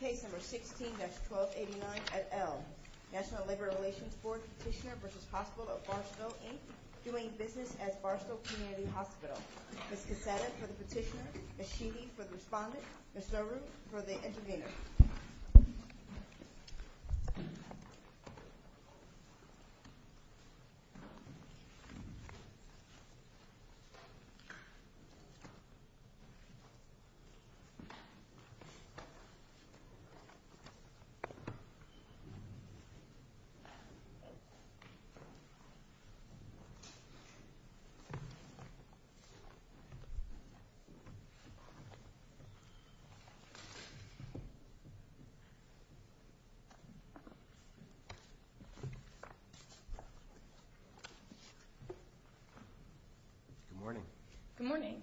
Case number 16-1289 at L, National Labor Relations Board Petitioner v. Hospital of Barstow, Inc., doing business at Barstow Community Hospital. Ms. Cassata for the petitioner, Ms. Sheedy for the respondent, Ms. Noroo for the intervener. Good morning.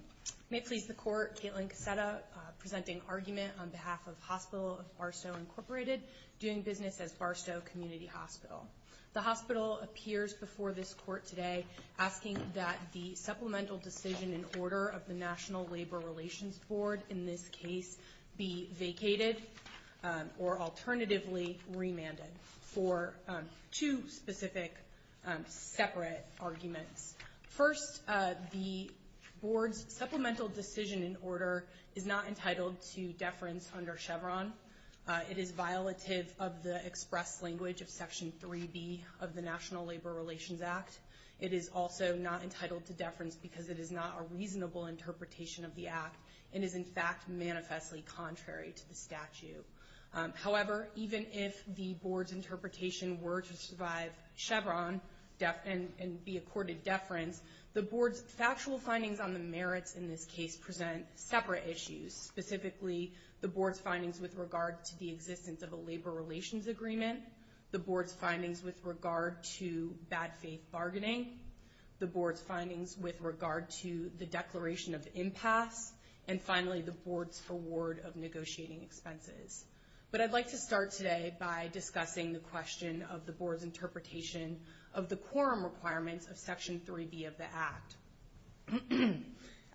May it please the Court, Kaitlin Cassata presenting argument on behalf of Hospital of Barstow, Inc., doing business as Barstow Community Hospital. The hospital appears before this Court today asking that the supplemental decision in order of the National Labor Relations Board, in this case, be vacated or alternatively remanded for two specific separate arguments. First, the Board's supplemental decision in order is not entitled to deference under Chevron. It is violative of the express language of Section 3B of the National Labor Relations Act. It is also not entitled to deference because it is not a reasonable interpretation of the Act and is, in fact, manifestly contrary to the statute. However, even if the Board's interpretation were to survive Chevron and be accorded deference, the Board's factual findings on the merits in this case present separate issues, specifically the Board's findings with regard to the existence of a labor relations agreement, the Board's findings with regard to bad faith bargaining, the Board's findings with regard to the declaration of impasse, and finally, the Board's reward of negotiating expenses. But I'd like to start today by discussing the question of the Board's interpretation of the quorum requirements of Section 3B of the Act.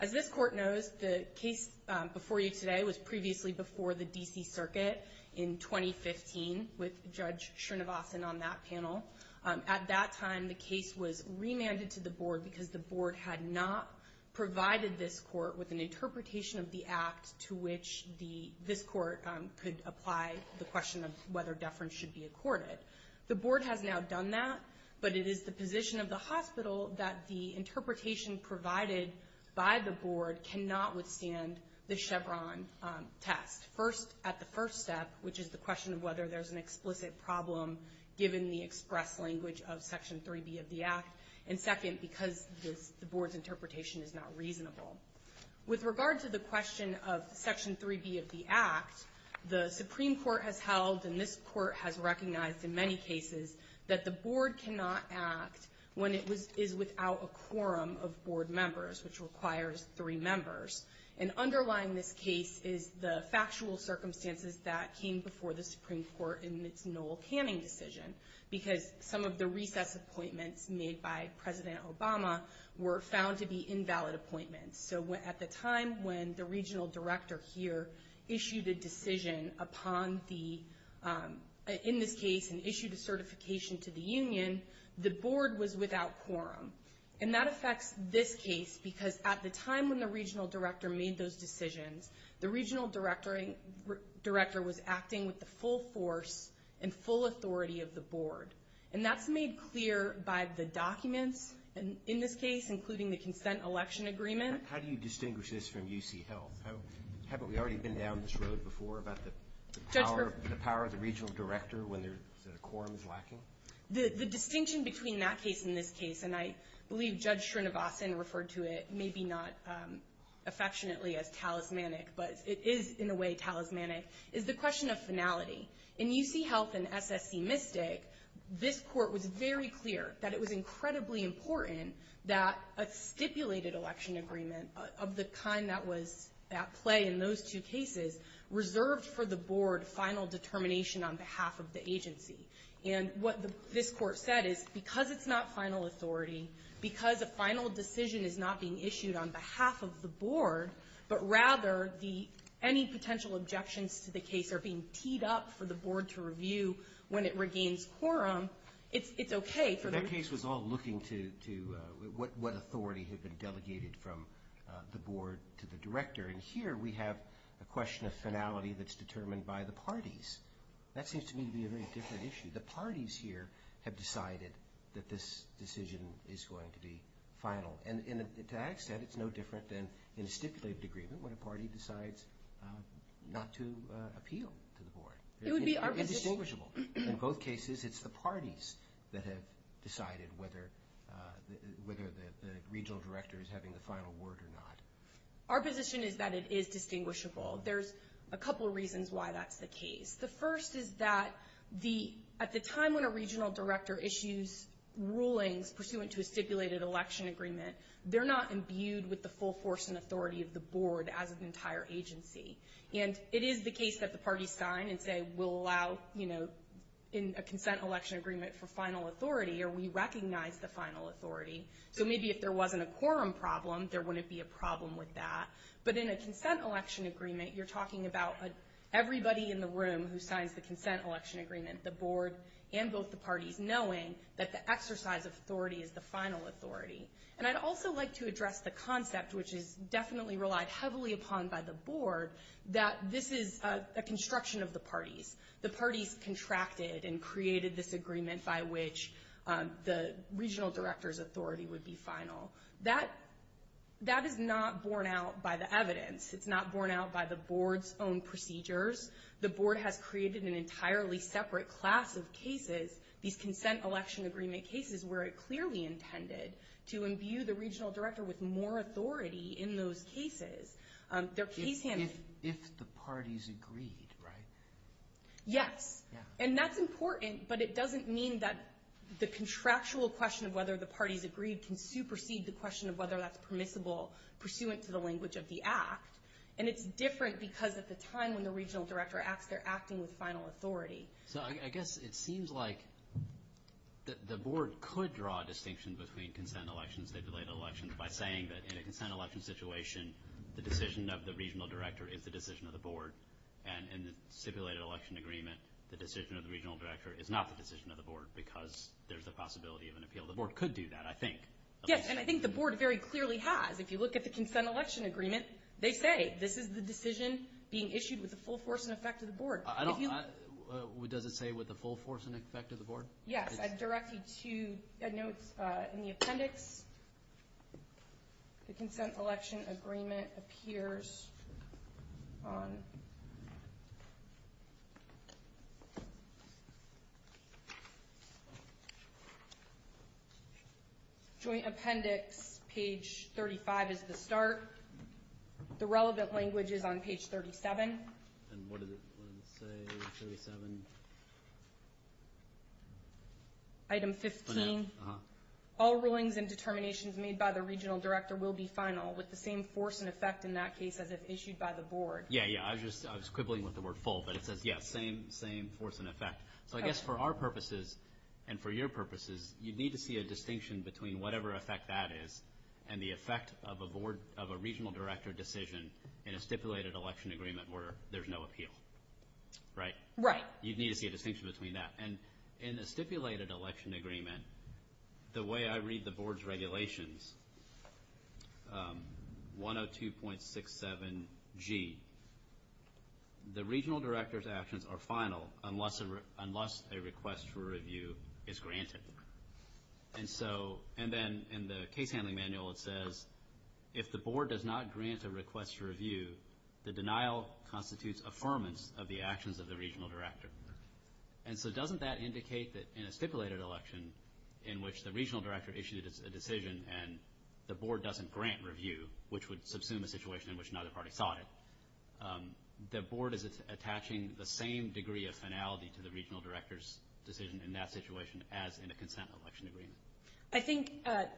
As this Court knows, the case before you today was previously before the D.C. Circuit in 2015 with Judge Srinivasan on that panel. At that time, the case was remanded to the Board because the Board had not provided this Court with an interpretation of the Act to which this Court could apply the question of whether deference should be accorded. The Board has now done that, but it is the position of the hospital that the interpretation provided by the Board cannot withstand the Chevron test at the first step, which is the question of whether there's an explicit problem given the express language of Section 3B of the Act, and second, because the Board's interpretation is not reasonable. With regard to the question of Section 3B of the Act, the Supreme Court has held, and this Court has recognized in many cases, that the Board cannot act when it is without a quorum of Board members, which requires three members. And underlying this case is the factual circumstances that came before the Supreme Court in its Noel Canning decision, because some of the recess appointments made by President Obama were found to be invalid appointments. So at the time when the Regional Director here issued a decision in this case and issued a certification to the Union, the Board was without quorum. And that affects this case because at the time when the Regional Director made those decisions, the Regional Director was acting with the full force and full authority of the Board. And that's made clear by the documents in this case, including the consent election agreement. How do you distinguish this from UC Health? Haven't we already been down this road before about the power of the Regional Director when the quorum is lacking? The distinction between that case and this case, and I believe Judge Srinivasan referred to it, maybe not affectionately as talismanic, but it is in a way talismanic, is the question of finality. In UC Health and SSC Mystic, this Court was very clear that it was incredibly important that a stipulated election agreement of the kind that was at play in those two cases reserved for the Board final determination on behalf of the agency. And what this Court said is because it's not final authority, because a final decision is not being issued on behalf of the Board, but rather any potential objections to the case are being teed up for the Board to review when it regains quorum, it's okay for the region. So that case was all looking to what authority had been delegated from the Board to the Director. And here we have a question of finality that's determined by the parties. That seems to me to be a very different issue. The parties here have decided that this decision is going to be final. And to that extent, it's no different than in a stipulated agreement when a party decides not to appeal to the Board. It's indistinguishable. In both cases, it's the parties that have decided whether the Regional Director is having the final word or not. Our position is that it is distinguishable. There's a couple reasons why that's the case. The first is that at the time when a Regional Director issues rulings pursuant to a stipulated election agreement, they're not imbued with the full force and authority of the Board as an entire agency. And it is the case that the parties sign and say we'll allow, you know, in a consent election agreement for final authority, or we recognize the final authority. So maybe if there wasn't a quorum problem, there wouldn't be a problem with that. But in a consent election agreement, you're talking about everybody in the room who signs the consent election agreement, the Board and both the parties, knowing that the exercise of authority is the final authority. And I'd also like to address the concept, which is definitely relied heavily upon by the Board, that this is a construction of the parties. The parties contracted and created this agreement by which the Regional Director's authority would be final. That is not borne out by the evidence. It's not borne out by the Board's own procedures. The Board has created an entirely separate class of cases, these consent election agreement cases, where it clearly intended to imbue the Regional Director with more authority in those cases. If the parties agreed, right? Yes. And that's important, but it doesn't mean that the contractual question of whether the parties agreed can supersede the question of whether that's permissible pursuant to the language of the Act. And it's different because at the time when the Regional Director acts, they're acting with final authority. So I guess it seems like the Board could draw a distinction between consent elections, stipulated elections, by saying that in a consent election situation, the decision of the Regional Director is the decision of the Board. And in the stipulated election agreement, the decision of the Regional Director is not the decision of the Board because there's the possibility of an appeal. The Board could do that, I think. Yes, and I think the Board very clearly has. If you look at the consent election agreement, they say this is the decision being issued with the full force and effect of the Board. Does it say with the full force and effect of the Board? Yes. I'd direct you to notes in the appendix. The consent election agreement appears on joint appendix, page 35 is the start. The relevant language is on page 37. And what does it say, page 37? Item 15. All rulings and determinations made by the Regional Director will be final, with the same force and effect in that case as if issued by the Board. Yeah, yeah, I was quibbling with the word full, but it says, yeah, same force and effect. So I guess for our purposes and for your purposes, you'd need to see a distinction between whatever effect that is and the effect of a Board, of a Regional Director decision in a stipulated election agreement where there's no appeal. Right? Right. You'd need to see a distinction between that. And in a stipulated election agreement, the way I read the Board's regulations, 102.67G, the Regional Director's actions are final unless a request for review is granted. And then in the case handling manual it says, if the Board does not grant a request for review, the denial constitutes affirmance of the actions of the Regional Director. And so doesn't that indicate that in a stipulated election in which the Regional Director issued a decision and the Board doesn't grant review, which would subsume a situation in which neither party sought it, the Board is attaching the same degree of finality to the Regional Director's decision in that situation as in a consent election agreement? I think,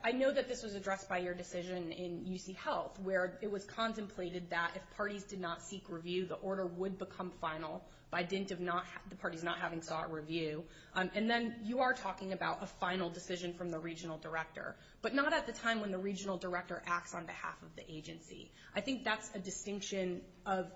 I know that this was addressed by your decision in UC Health where it was contemplated that if parties did not seek review, the order would become final by dint of the parties not having sought review. And then you are talking about a final decision from the Regional Director, but not at the time when the Regional Director acts on behalf of the agency. I think that's a distinction of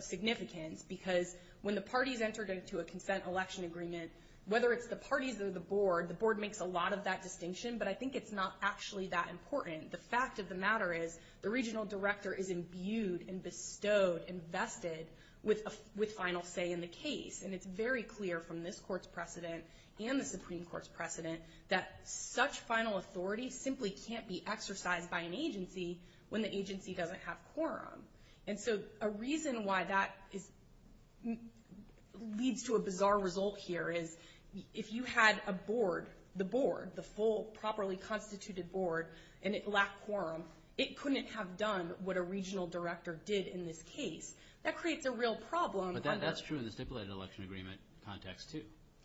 significance because when the parties enter into a consent election agreement, whether it's the parties or the Board, the Board makes a lot of that distinction, but I think it's not actually that important. The fact of the matter is the Regional Director is imbued and bestowed, invested with final say in the case. And it's very clear from this Court's precedent and the Supreme Court's precedent that such final authority simply can't be exercised by an agency when the agency doesn't have quorum. And so a reason why that leads to a bizarre result here is if you had a Board, the Board, the full properly constituted Board, and it lacked quorum, it couldn't have done what a Regional Director did in this case. That creates a real problem. But that's true in the stipulated election agreement context too.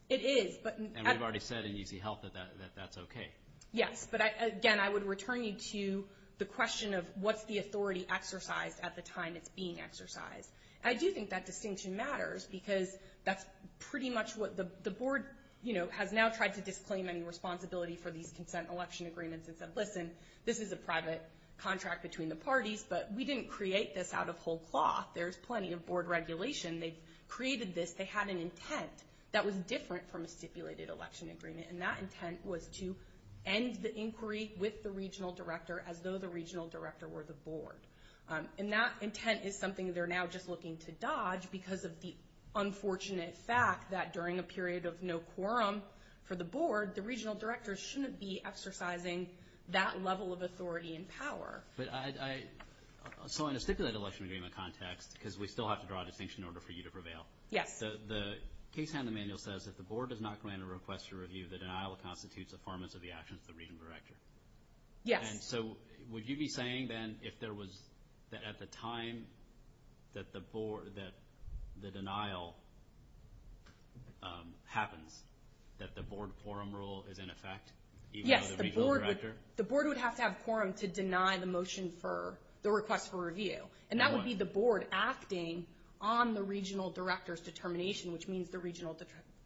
It is. And we've already said in EZ Health that that's okay. Yes, but again, I would return you to the question of what's the authority exercised at the time it's being exercised. I do think that distinction matters because that's pretty much what the Board, you know, has now tried to disclaim any responsibility for these consent election agreements and said, listen, this is a private contract between the parties, but we didn't create this out of whole cloth. There's plenty of Board regulation. They created this. They had an intent that was different from a stipulated election agreement, and that intent was to end the inquiry with the Regional Director as though the Regional Director were the Board. And that intent is something they're now just looking to dodge because of the unfortunate fact that during a period of no quorum for the Board, the Regional Director shouldn't be exercising that level of authority and power. But so in a stipulated election agreement context, because we still have to draw a distinction in order for you to prevail. Yes. The case hand in the manual says if the Board does not grant a request for review, the denial constitutes a performance of the actions of the Regional Director. Yes. And so would you be saying then if there was at the time that the denial happens, that the Board quorum rule is in effect even though the Regional Director? The Board would have to have quorum to deny the motion for the request for review. And that would be the Board acting on the Regional Director's determination, which means the Regional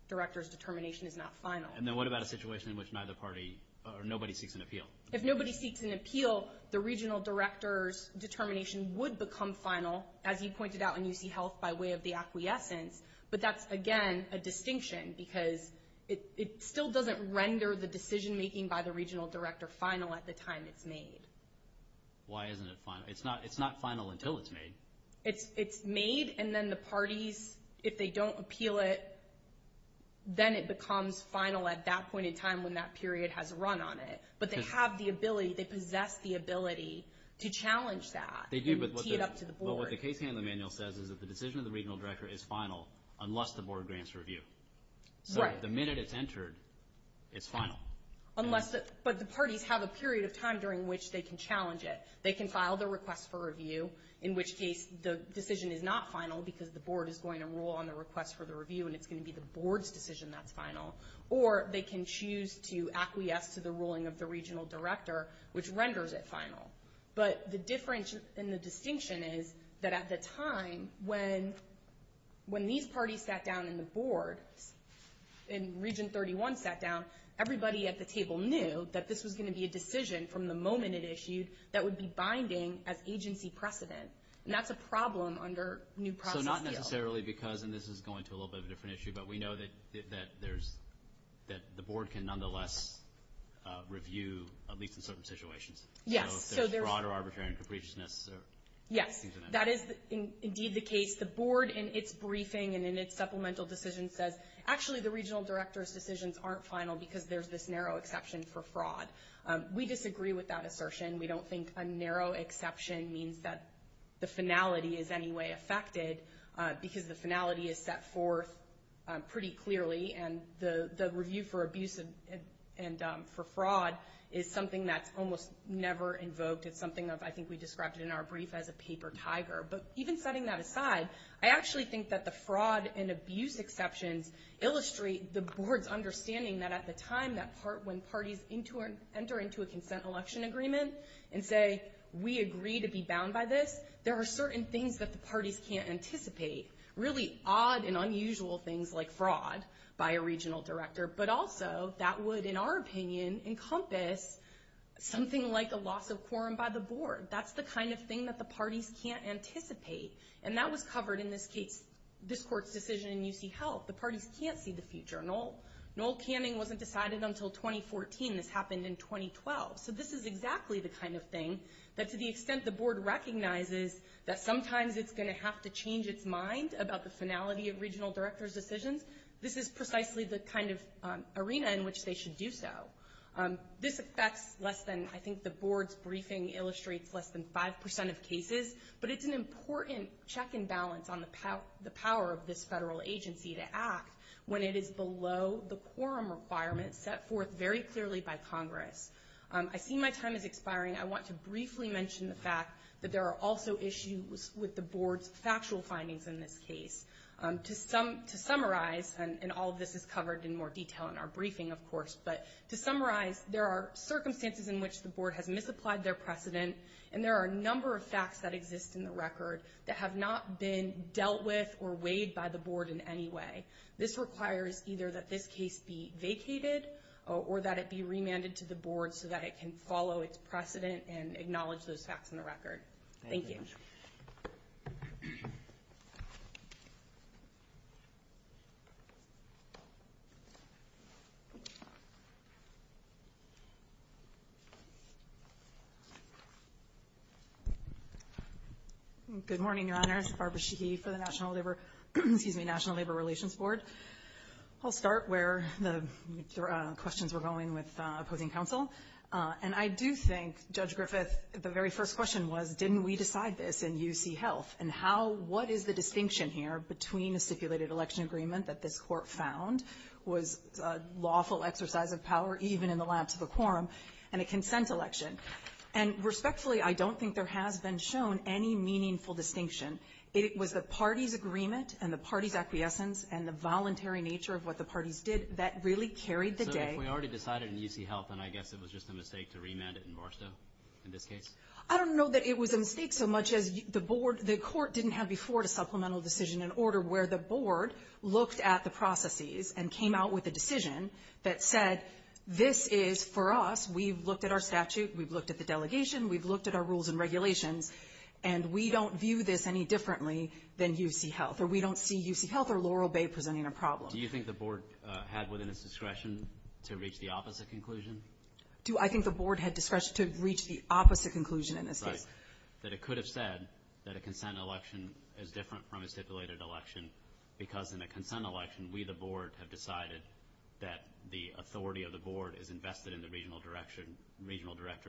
Director's determination is not final. And then what about a situation in which neither party or nobody seeks an appeal? If nobody seeks an appeal, the Regional Director's determination would become final, as you pointed out in UCHealth by way of the acquiescence. But that's, again, a distinction because it still doesn't render the decision-making by the Regional Director final at the time it's made. Why isn't it final? It's not final until it's made. It's made, and then the parties, if they don't appeal it, then it becomes final at that point in time when that period has run on it. But they have the ability, they possess the ability to challenge that and tee it up to the Board. But what the case handling manual says is that the decision of the Regional Director is final unless the Board grants review. Right. So the minute it's entered, it's final. But the parties have a period of time during which they can challenge it. They can file their request for review, in which case the decision is not final because the Board is going to rule on the request for the review, and it's going to be the Board's decision that's final. Or they can choose to acquiesce to the ruling of the Regional Director, which renders it final. But the difference and the distinction is that at the time, when these parties sat down and the Board and Region 31 sat down, everybody at the table knew that this was going to be a decision from the moment it issued that would be binding as agency precedent, and that's a problem under new process deals. So not necessarily because, and this is going to a little bit of a different issue, but we know that the Board can nonetheless review, at least in certain situations. Yes. So if there's fraud or arbitrary and capriciousness. Yes, that is indeed the case. The Board in its briefing and in its supplemental decision says, actually the Regional Director's decisions aren't final because there's this narrow exception for fraud. We disagree with that assertion. We don't think a narrow exception means that the finality is any way affected because the finality is set forth pretty clearly, and the review for abuse and for fraud is something that's almost never invoked. It's something that I think we described in our brief as a paper tiger. But even setting that aside, I actually think that the fraud and abuse exceptions illustrate the Board's understanding that at the time when parties enter into a consent election agreement and say, we agree to be bound by this, there are certain things that the parties can't anticipate, really odd and unusual things like fraud by a Regional Director, but also that would, in our opinion, encompass something like a loss of quorum by the Board. That's the kind of thing that the parties can't anticipate, and that was covered in this case, this Court's decision in UC Health. The parties can't see the future. Noel Canning wasn't decided until 2014. This happened in 2012. So this is exactly the kind of thing that to the extent the Board recognizes that sometimes it's going to have to change its mind about the finality of Regional Directors' decisions, this is precisely the kind of arena in which they should do so. This affects less than, I think the Board's briefing illustrates less than 5% of cases, but it's an important check and balance on the power of this federal agency to act when it is below the quorum requirements set forth very clearly by Congress. I see my time is expiring. I want to briefly mention the fact that there are also issues with the Board's factual findings in this case. To summarize, and all of this is covered in more detail in our briefing, of course, but to summarize, there are circumstances in which the Board has misapplied their precedent, and there are a number of facts that exist in the record that have not been dealt with or weighed by the Board in any way. This requires either that this case be vacated or that it be remanded to the Board so that it can follow its precedent and acknowledge those facts in the record. Thank you. Good morning, Your Honors. Barbara Sheehy for the National Labor Relations Board. I'll start where the questions were going with opposing counsel. And I do think, Judge Griffith, the very first question was, didn't we decide this in UC Health? And what is the distinction here between a stipulated election agreement that this Court found was a lawful exercise of power even in the laps of a quorum and a consent election? And respectfully, I don't think there has been shown any meaningful distinction. It was the party's agreement and the party's acquiescence and the voluntary nature of what the parties did that really carried the day. So if we already decided in UC Health, then I guess it was just a mistake to remand it in Morristown in this case? I don't know that it was a mistake so much as the Court didn't have before a supplemental decision in order where the Board looked at the processes and came out with a decision that said, this is for us, we've looked at our statute, we've looked at the delegation, we've looked at our rules and regulations, and we don't view this any differently than UC Health, or we don't see UC Health or Laurel Bay presenting a problem. Do you think the Board had within its discretion to reach the opposite conclusion? Do I think the Board had discretion to reach the opposite conclusion in this case? That it could have said that a consent election is different from a stipulated election because in a consent election, we, the Board, have decided that the authority of the Board is invested in the regional director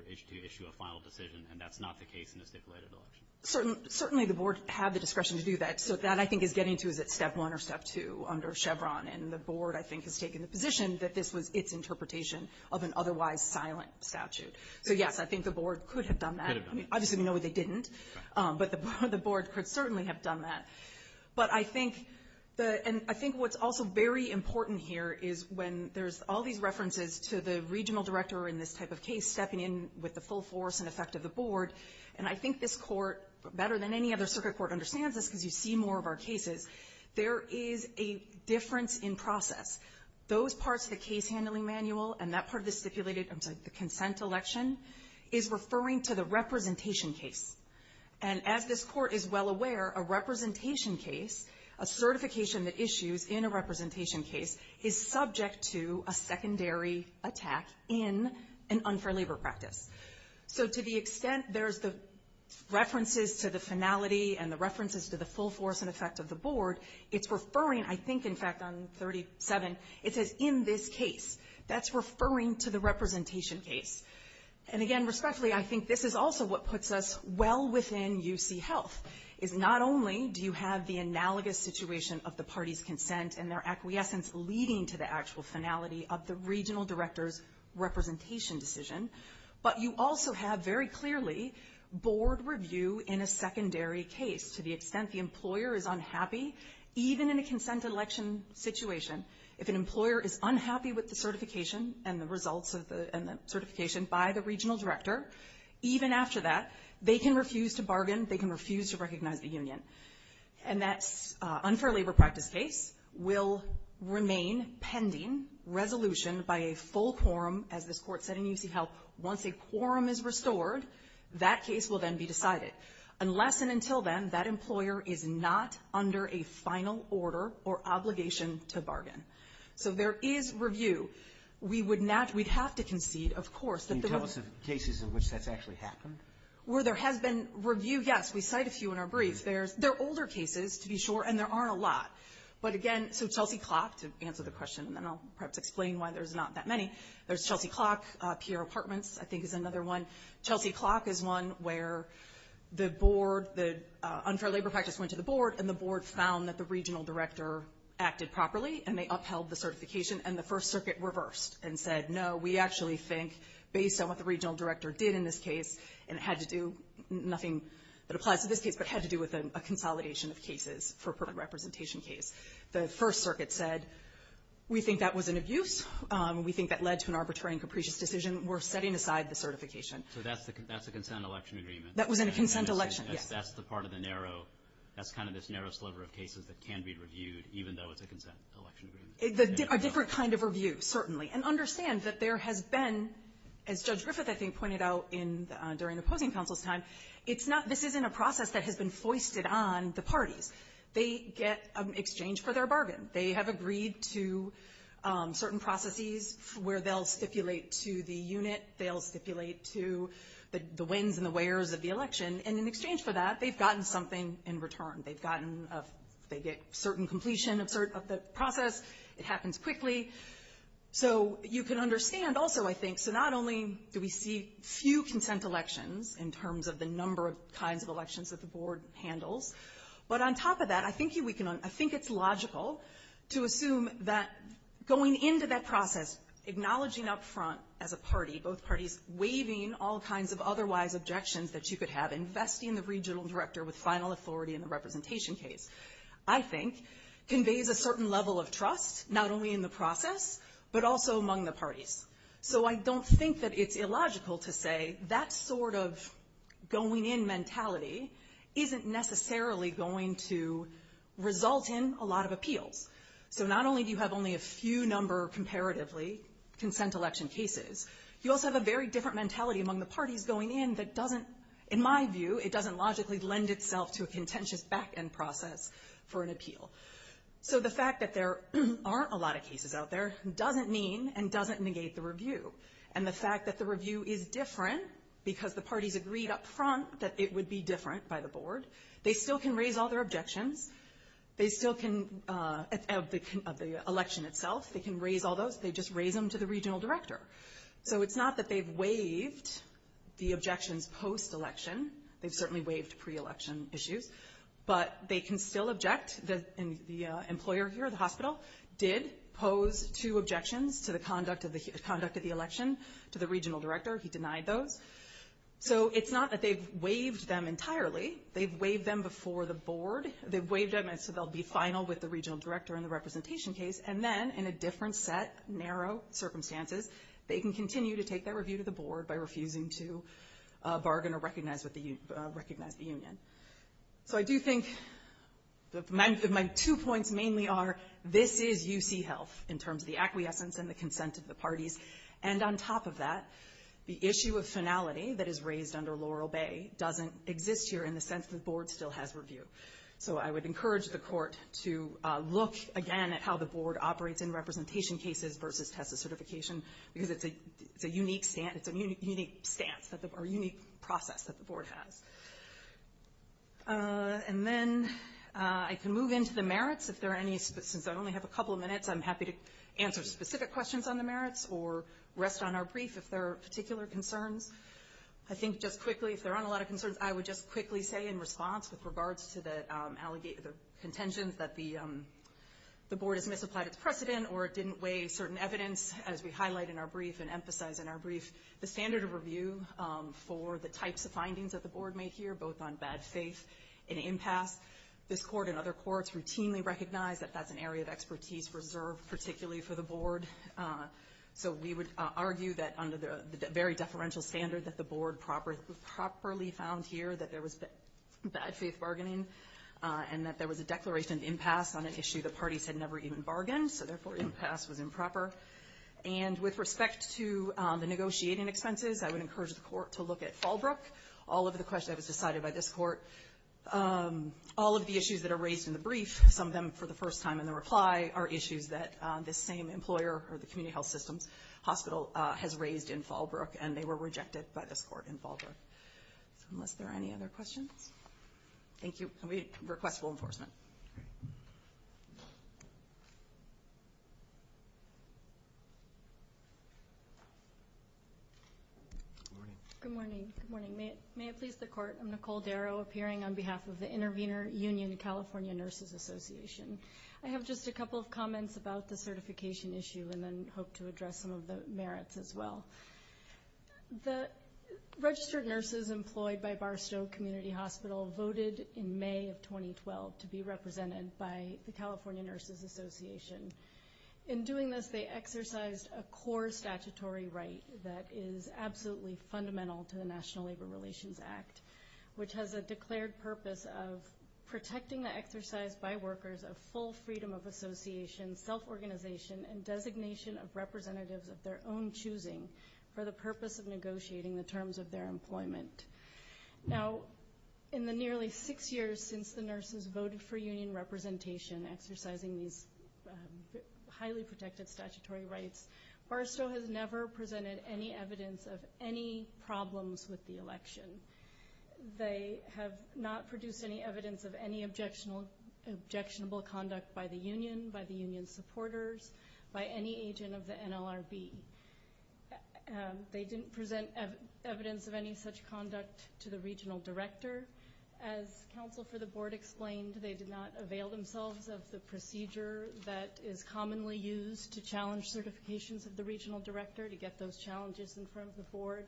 to issue a final decision, and that's not the case in a stipulated election. Certainly, the Board had the discretion to do that. So that, I think, is getting to, is it step one or step two under Chevron, and the Board, I think, has taken the position that this was its interpretation of an otherwise silent statute. So, yes, I think the Board could have done that. Obviously, we know that they didn't, but the Board could certainly have done that. But I think what's also very important here is when there's all these references to the regional director in this type of case stepping in with the full force and effect of the Board, and I think this Court, better than any other circuit court understands this because you see more of our cases, there is a difference in process. Those parts of the case handling manual and that part of the stipulated, I'm sorry, the consent election is referring to the representation case. And as this Court is well aware, a representation case, a certification that issues in a representation case is subject to a secondary attack in an unfair labor practice. So to the extent there's the references to the finality and the references to the full force and effect of the Board, it's referring, I think, in fact, on 37, it says in this case. That's referring to the representation case. And again, respectfully, I think this is also what puts us well within UC Health, is not only do you have the analogous situation of the party's consent and their acquiescence leading to the actual finality of the regional director's representation decision, but you also have very clearly Board review in a secondary case. To the extent the employer is unhappy, even in a consent election situation, if an employer is unhappy with the certification and the results of the certification by the regional director, even after that, they can refuse to bargain. They can refuse to recognize the union. And that unfair labor practice case will remain pending resolution by a full quorum, as this Court said in UC Health. Once a quorum is restored, that case will then be decided. Unless and until then, that employer is not under a final order or obligation to bargain. So there is review. We would not, we'd have to concede, of course, that there was. Are there lots of cases in which that's actually happened? Where there has been review, yes. We cite a few in our briefs. There are older cases, to be sure, and there aren't a lot. But again, so Chelsea Clock, to answer the question, and then I'll perhaps explain why there's not that many. There's Chelsea Clock, Pierre Apartments, I think is another one. Chelsea Clock is one where the Board, the unfair labor practice went to the Board, and the Board found that the regional director acted properly, and they upheld the certification, and the First Circuit reversed and said, no, we actually think, based on what the regional director did in this case, and it had to do, nothing that applies to this case, but had to do with a consolidation of cases for a perfect representation case. The First Circuit said, we think that was an abuse. We think that led to an arbitrary and capricious decision. We're setting aside the certification. So that's a consent election agreement. That was in a consent election, yes. That's the part of the narrow, that's kind of this narrow sliver of cases that can be reviewed, even though it's a consent election agreement. A different kind of review, certainly, and understand that there has been, as Judge Griffith, I think, pointed out during the opposing counsel's time, it's not, this isn't a process that has been foisted on the parties. They get an exchange for their bargain. They have agreed to certain processes where they'll stipulate to the unit, they'll stipulate to the wins and the wears of the election, and in exchange for that, they've gotten something in return. They've gotten, they get certain completion of the process. It happens quickly. So you can understand, also, I think, so not only do we see few consent elections in terms of the number of kinds of elections that the Board handles, but on top of that, I think it's logical to assume that going into that process, acknowledging up front as a party, both parties, waiving all kinds of otherwise objections that you could have, investing the regional director with final authority in the representation case, I think, conveys a certain level of trust, not only in the process, but also among the parties. So I don't think that it's illogical to say that sort of going-in mentality isn't necessarily going to result in a lot of appeals. So not only do you have only a few number, comparatively, consent election cases, you also have a very different mentality among the parties going in that doesn't, in my view, it doesn't logically lend itself to a contentious back-end process for an appeal. So the fact that there aren't a lot of cases out there doesn't mean and doesn't negate the review. And the fact that the review is different because the parties agreed up front that it would be different by the Board, they still can raise all their objections, they still can, of the election itself, they can raise all those, they just raise them to the regional director. So it's not that they've waived the objections post-election, they've certainly waived pre-election issues, but they can still object, the employer here, the hospital, did pose two objections to the conduct of the election to the regional director, he denied those. So it's not that they've waived them entirely, they've waived them before the Board, they've waived them so they'll be final with the regional director in the representation case, and then, in a different set, narrow circumstances, they can continue to take their review to the Board by refusing to bargain or recognize the union. So I do think that my two points mainly are, this is UC health in terms of the acquiescence and the consent of the parties, and on top of that, the issue of finality that is raised under Laurel Bay doesn't exist here in the sense that the Board still has review. So I would encourage the Court to look again at how the Board operates in representation cases versus TESA certification, because it's a unique stance, a unique process that the Board has. And then I can move into the merits, if there are any, since I only have a couple of minutes, I'm happy to answer specific questions on the merits or rest on our brief if there are particular concerns. I think just quickly, if there aren't a lot of concerns, I would just quickly say in response with regards to the contention that the Board has misapplied its precedent or it didn't weigh certain evidence, as we highlight in our brief and emphasize in our brief, the standard of review for the types of findings that the Board may hear, both on bad faith and impasse. This Court and other courts routinely recognize that that's an area of expertise reserved particularly for the Board. So we would argue that under the very deferential standard that the Board properly found here that there was bad faith bargaining and that there was a declaration of impasse on an issue the parties had never even bargained, so therefore impasse was improper. And with respect to the negotiating expenses, I would encourage the Court to look at Fallbrook. All of the questions that were decided by this Court, all of the issues that are raised in the brief, some of them for the first time in the reply are issues that this same employer or the community health systems hospital has raised in Fallbrook, and they were rejected by this Court in Fallbrook. So unless there are any other questions, thank you. And we request full enforcement. Good morning. Good morning. May it please the Court. I'm Nicole Darrow, appearing on behalf of the Intervenor Union California Nurses Association. I have just a couple of comments about the certification issue and then hope to address some of the merits as well. The registered nurses employed by Barstow Community Hospital voted in May of 2012 to be represented by the California Nurses Association. In doing this, they exercised a core statutory right that is absolutely fundamental to the National Labor Relations Act, which has a declared purpose of protecting the exercise by workers of full freedom of association, self-organization, and designation of representatives of their own choosing for the purpose of negotiating the terms of their employment. Now, in the nearly six years since the nurses voted for union representation, exercising these highly protected statutory rights, Barstow has never presented any evidence of any problems with the election. They have not produced any evidence of any objectionable conduct by the union, by the union supporters, by any agent of the NLRB. They didn't present evidence of any such conduct to the regional director. As counsel for the board explained, they did not avail themselves of the procedure that is commonly used to challenge certifications of the regional director to get those challenges in front of the board.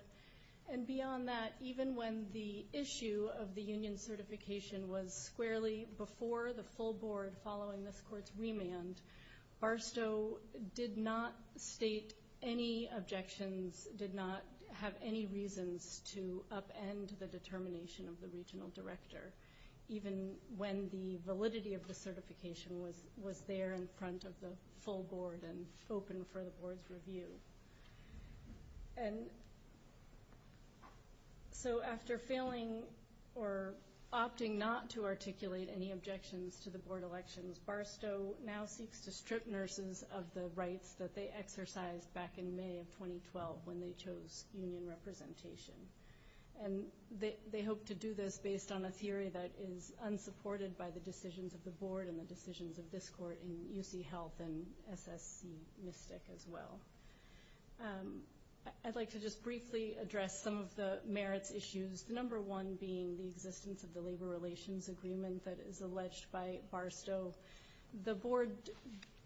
And beyond that, even when the issue of the union certification was squarely before the full board following this court's remand, Barstow did not state any objections, did not have any reasons to upend the determination of the regional director, even when the validity of the certification was there in front of the full board and open for the board's review. And so after failing or opting not to articulate any objections to the board elections, Barstow now seeks to strip nurses of the rights that they exercised back in May of 2012 when they chose union representation. And they hope to do this based on a theory that is unsupported by the decisions of the board and the decisions of this court in UC Health and SS Mystic as well. I'd like to just briefly address some of the merits issues, the number one being the existence of the labor relations agreement that is alleged by Barstow. The board,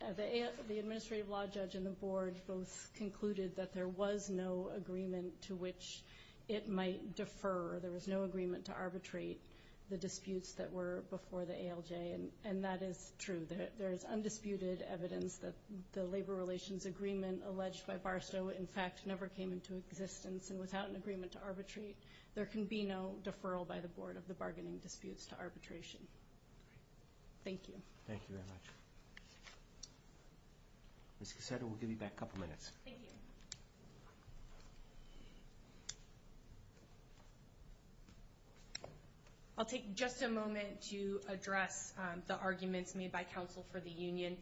the administrative law judge and the board both concluded that there was no agreement to which it might defer. There was no agreement to arbitrate the disputes that were before the ALJ. And that is true. There is undisputed evidence that the labor relations agreement alleged by Barstow, in fact, never came into existence. And without an agreement to arbitrate, there can be no deferral by the board of the bargaining disputes to arbitration. Thank you. Thank you very much. Ms. Cassetta, we'll give you back a couple minutes. Thank you. I'll take just a moment to address the arguments made by counsel for the union.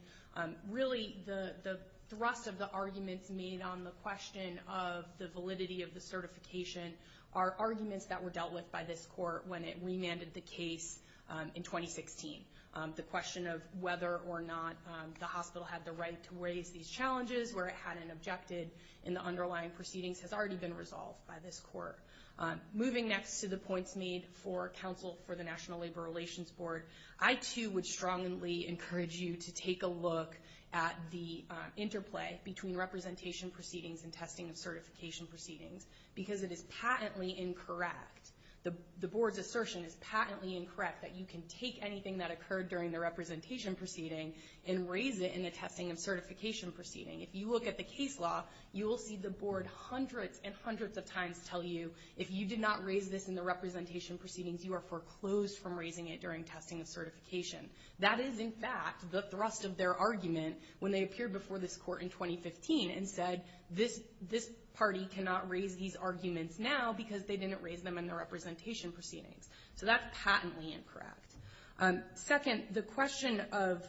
Really, the thrust of the arguments made on the question of the validity of the certification are arguments that were dealt with by this court when it remanded the case in 2016. The question of whether or not the hospital had the right to raise these challenges where it hadn't objected in the underlying proceedings has already been resolved by this court. Moving next to the points made for counsel for the National Labor Relations Board, I, too, would strongly encourage you to take a look at the interplay between representation proceedings and testing of certification proceedings, because it is patently incorrect. The board's assertion is patently incorrect that you can take anything that occurred during the representation proceeding and raise it in the testing of certification proceeding. If you look at the case law, you will see the board hundreds and hundreds of times tell you, if you did not raise this in the representation proceedings, you are foreclosed from raising it during testing of certification. That is, in fact, the thrust of their argument when they appeared before this court in 2015 and said, this party cannot raise these arguments now because they didn't raise them in the representation proceedings. So that's patently incorrect. Second, the question of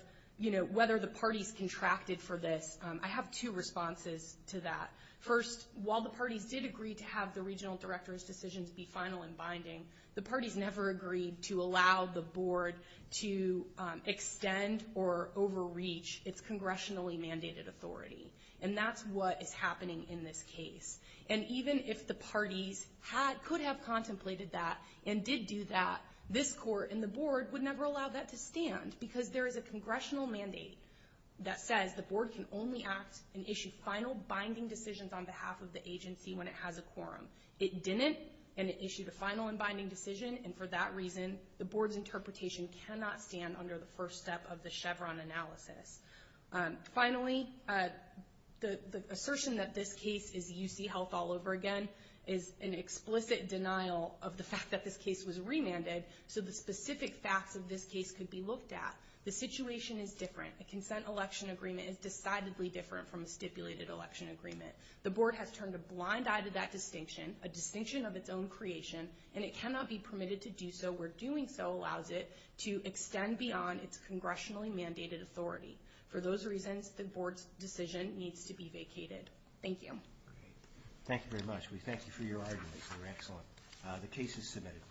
whether the parties contracted for this, I have two responses to that. First, while the parties did agree to have the regional director's decisions be final and binding, the parties never agreed to allow the board to extend or overreach its congressionally mandated authority. And that's what is happening in this case. And even if the parties could have contemplated that and did do that, this court and the board would never allow that to stand, because there is a congressional mandate that says the board can only act and issue final binding decisions on behalf of the agency when it has a quorum. It didn't, and it issued a final and binding decision. And for that reason, the board's interpretation cannot stand under the first step of the Chevron analysis. Finally, the assertion that this case is UC Health all over again is an explicit denial of the fact that this case was remanded. So the specific facts of this case could be looked at. The situation is different. The consent election agreement is decidedly different from a stipulated election agreement. The board has turned a blind eye to that distinction, a distinction of its own creation, and it cannot be permitted to do so where doing so allows it to extend beyond its congressionally mandated authority. For those reasons, the board's decision needs to be vacated. Thank you. Thank you very much. We thank you for your arguments. They were excellent. The case is submitted.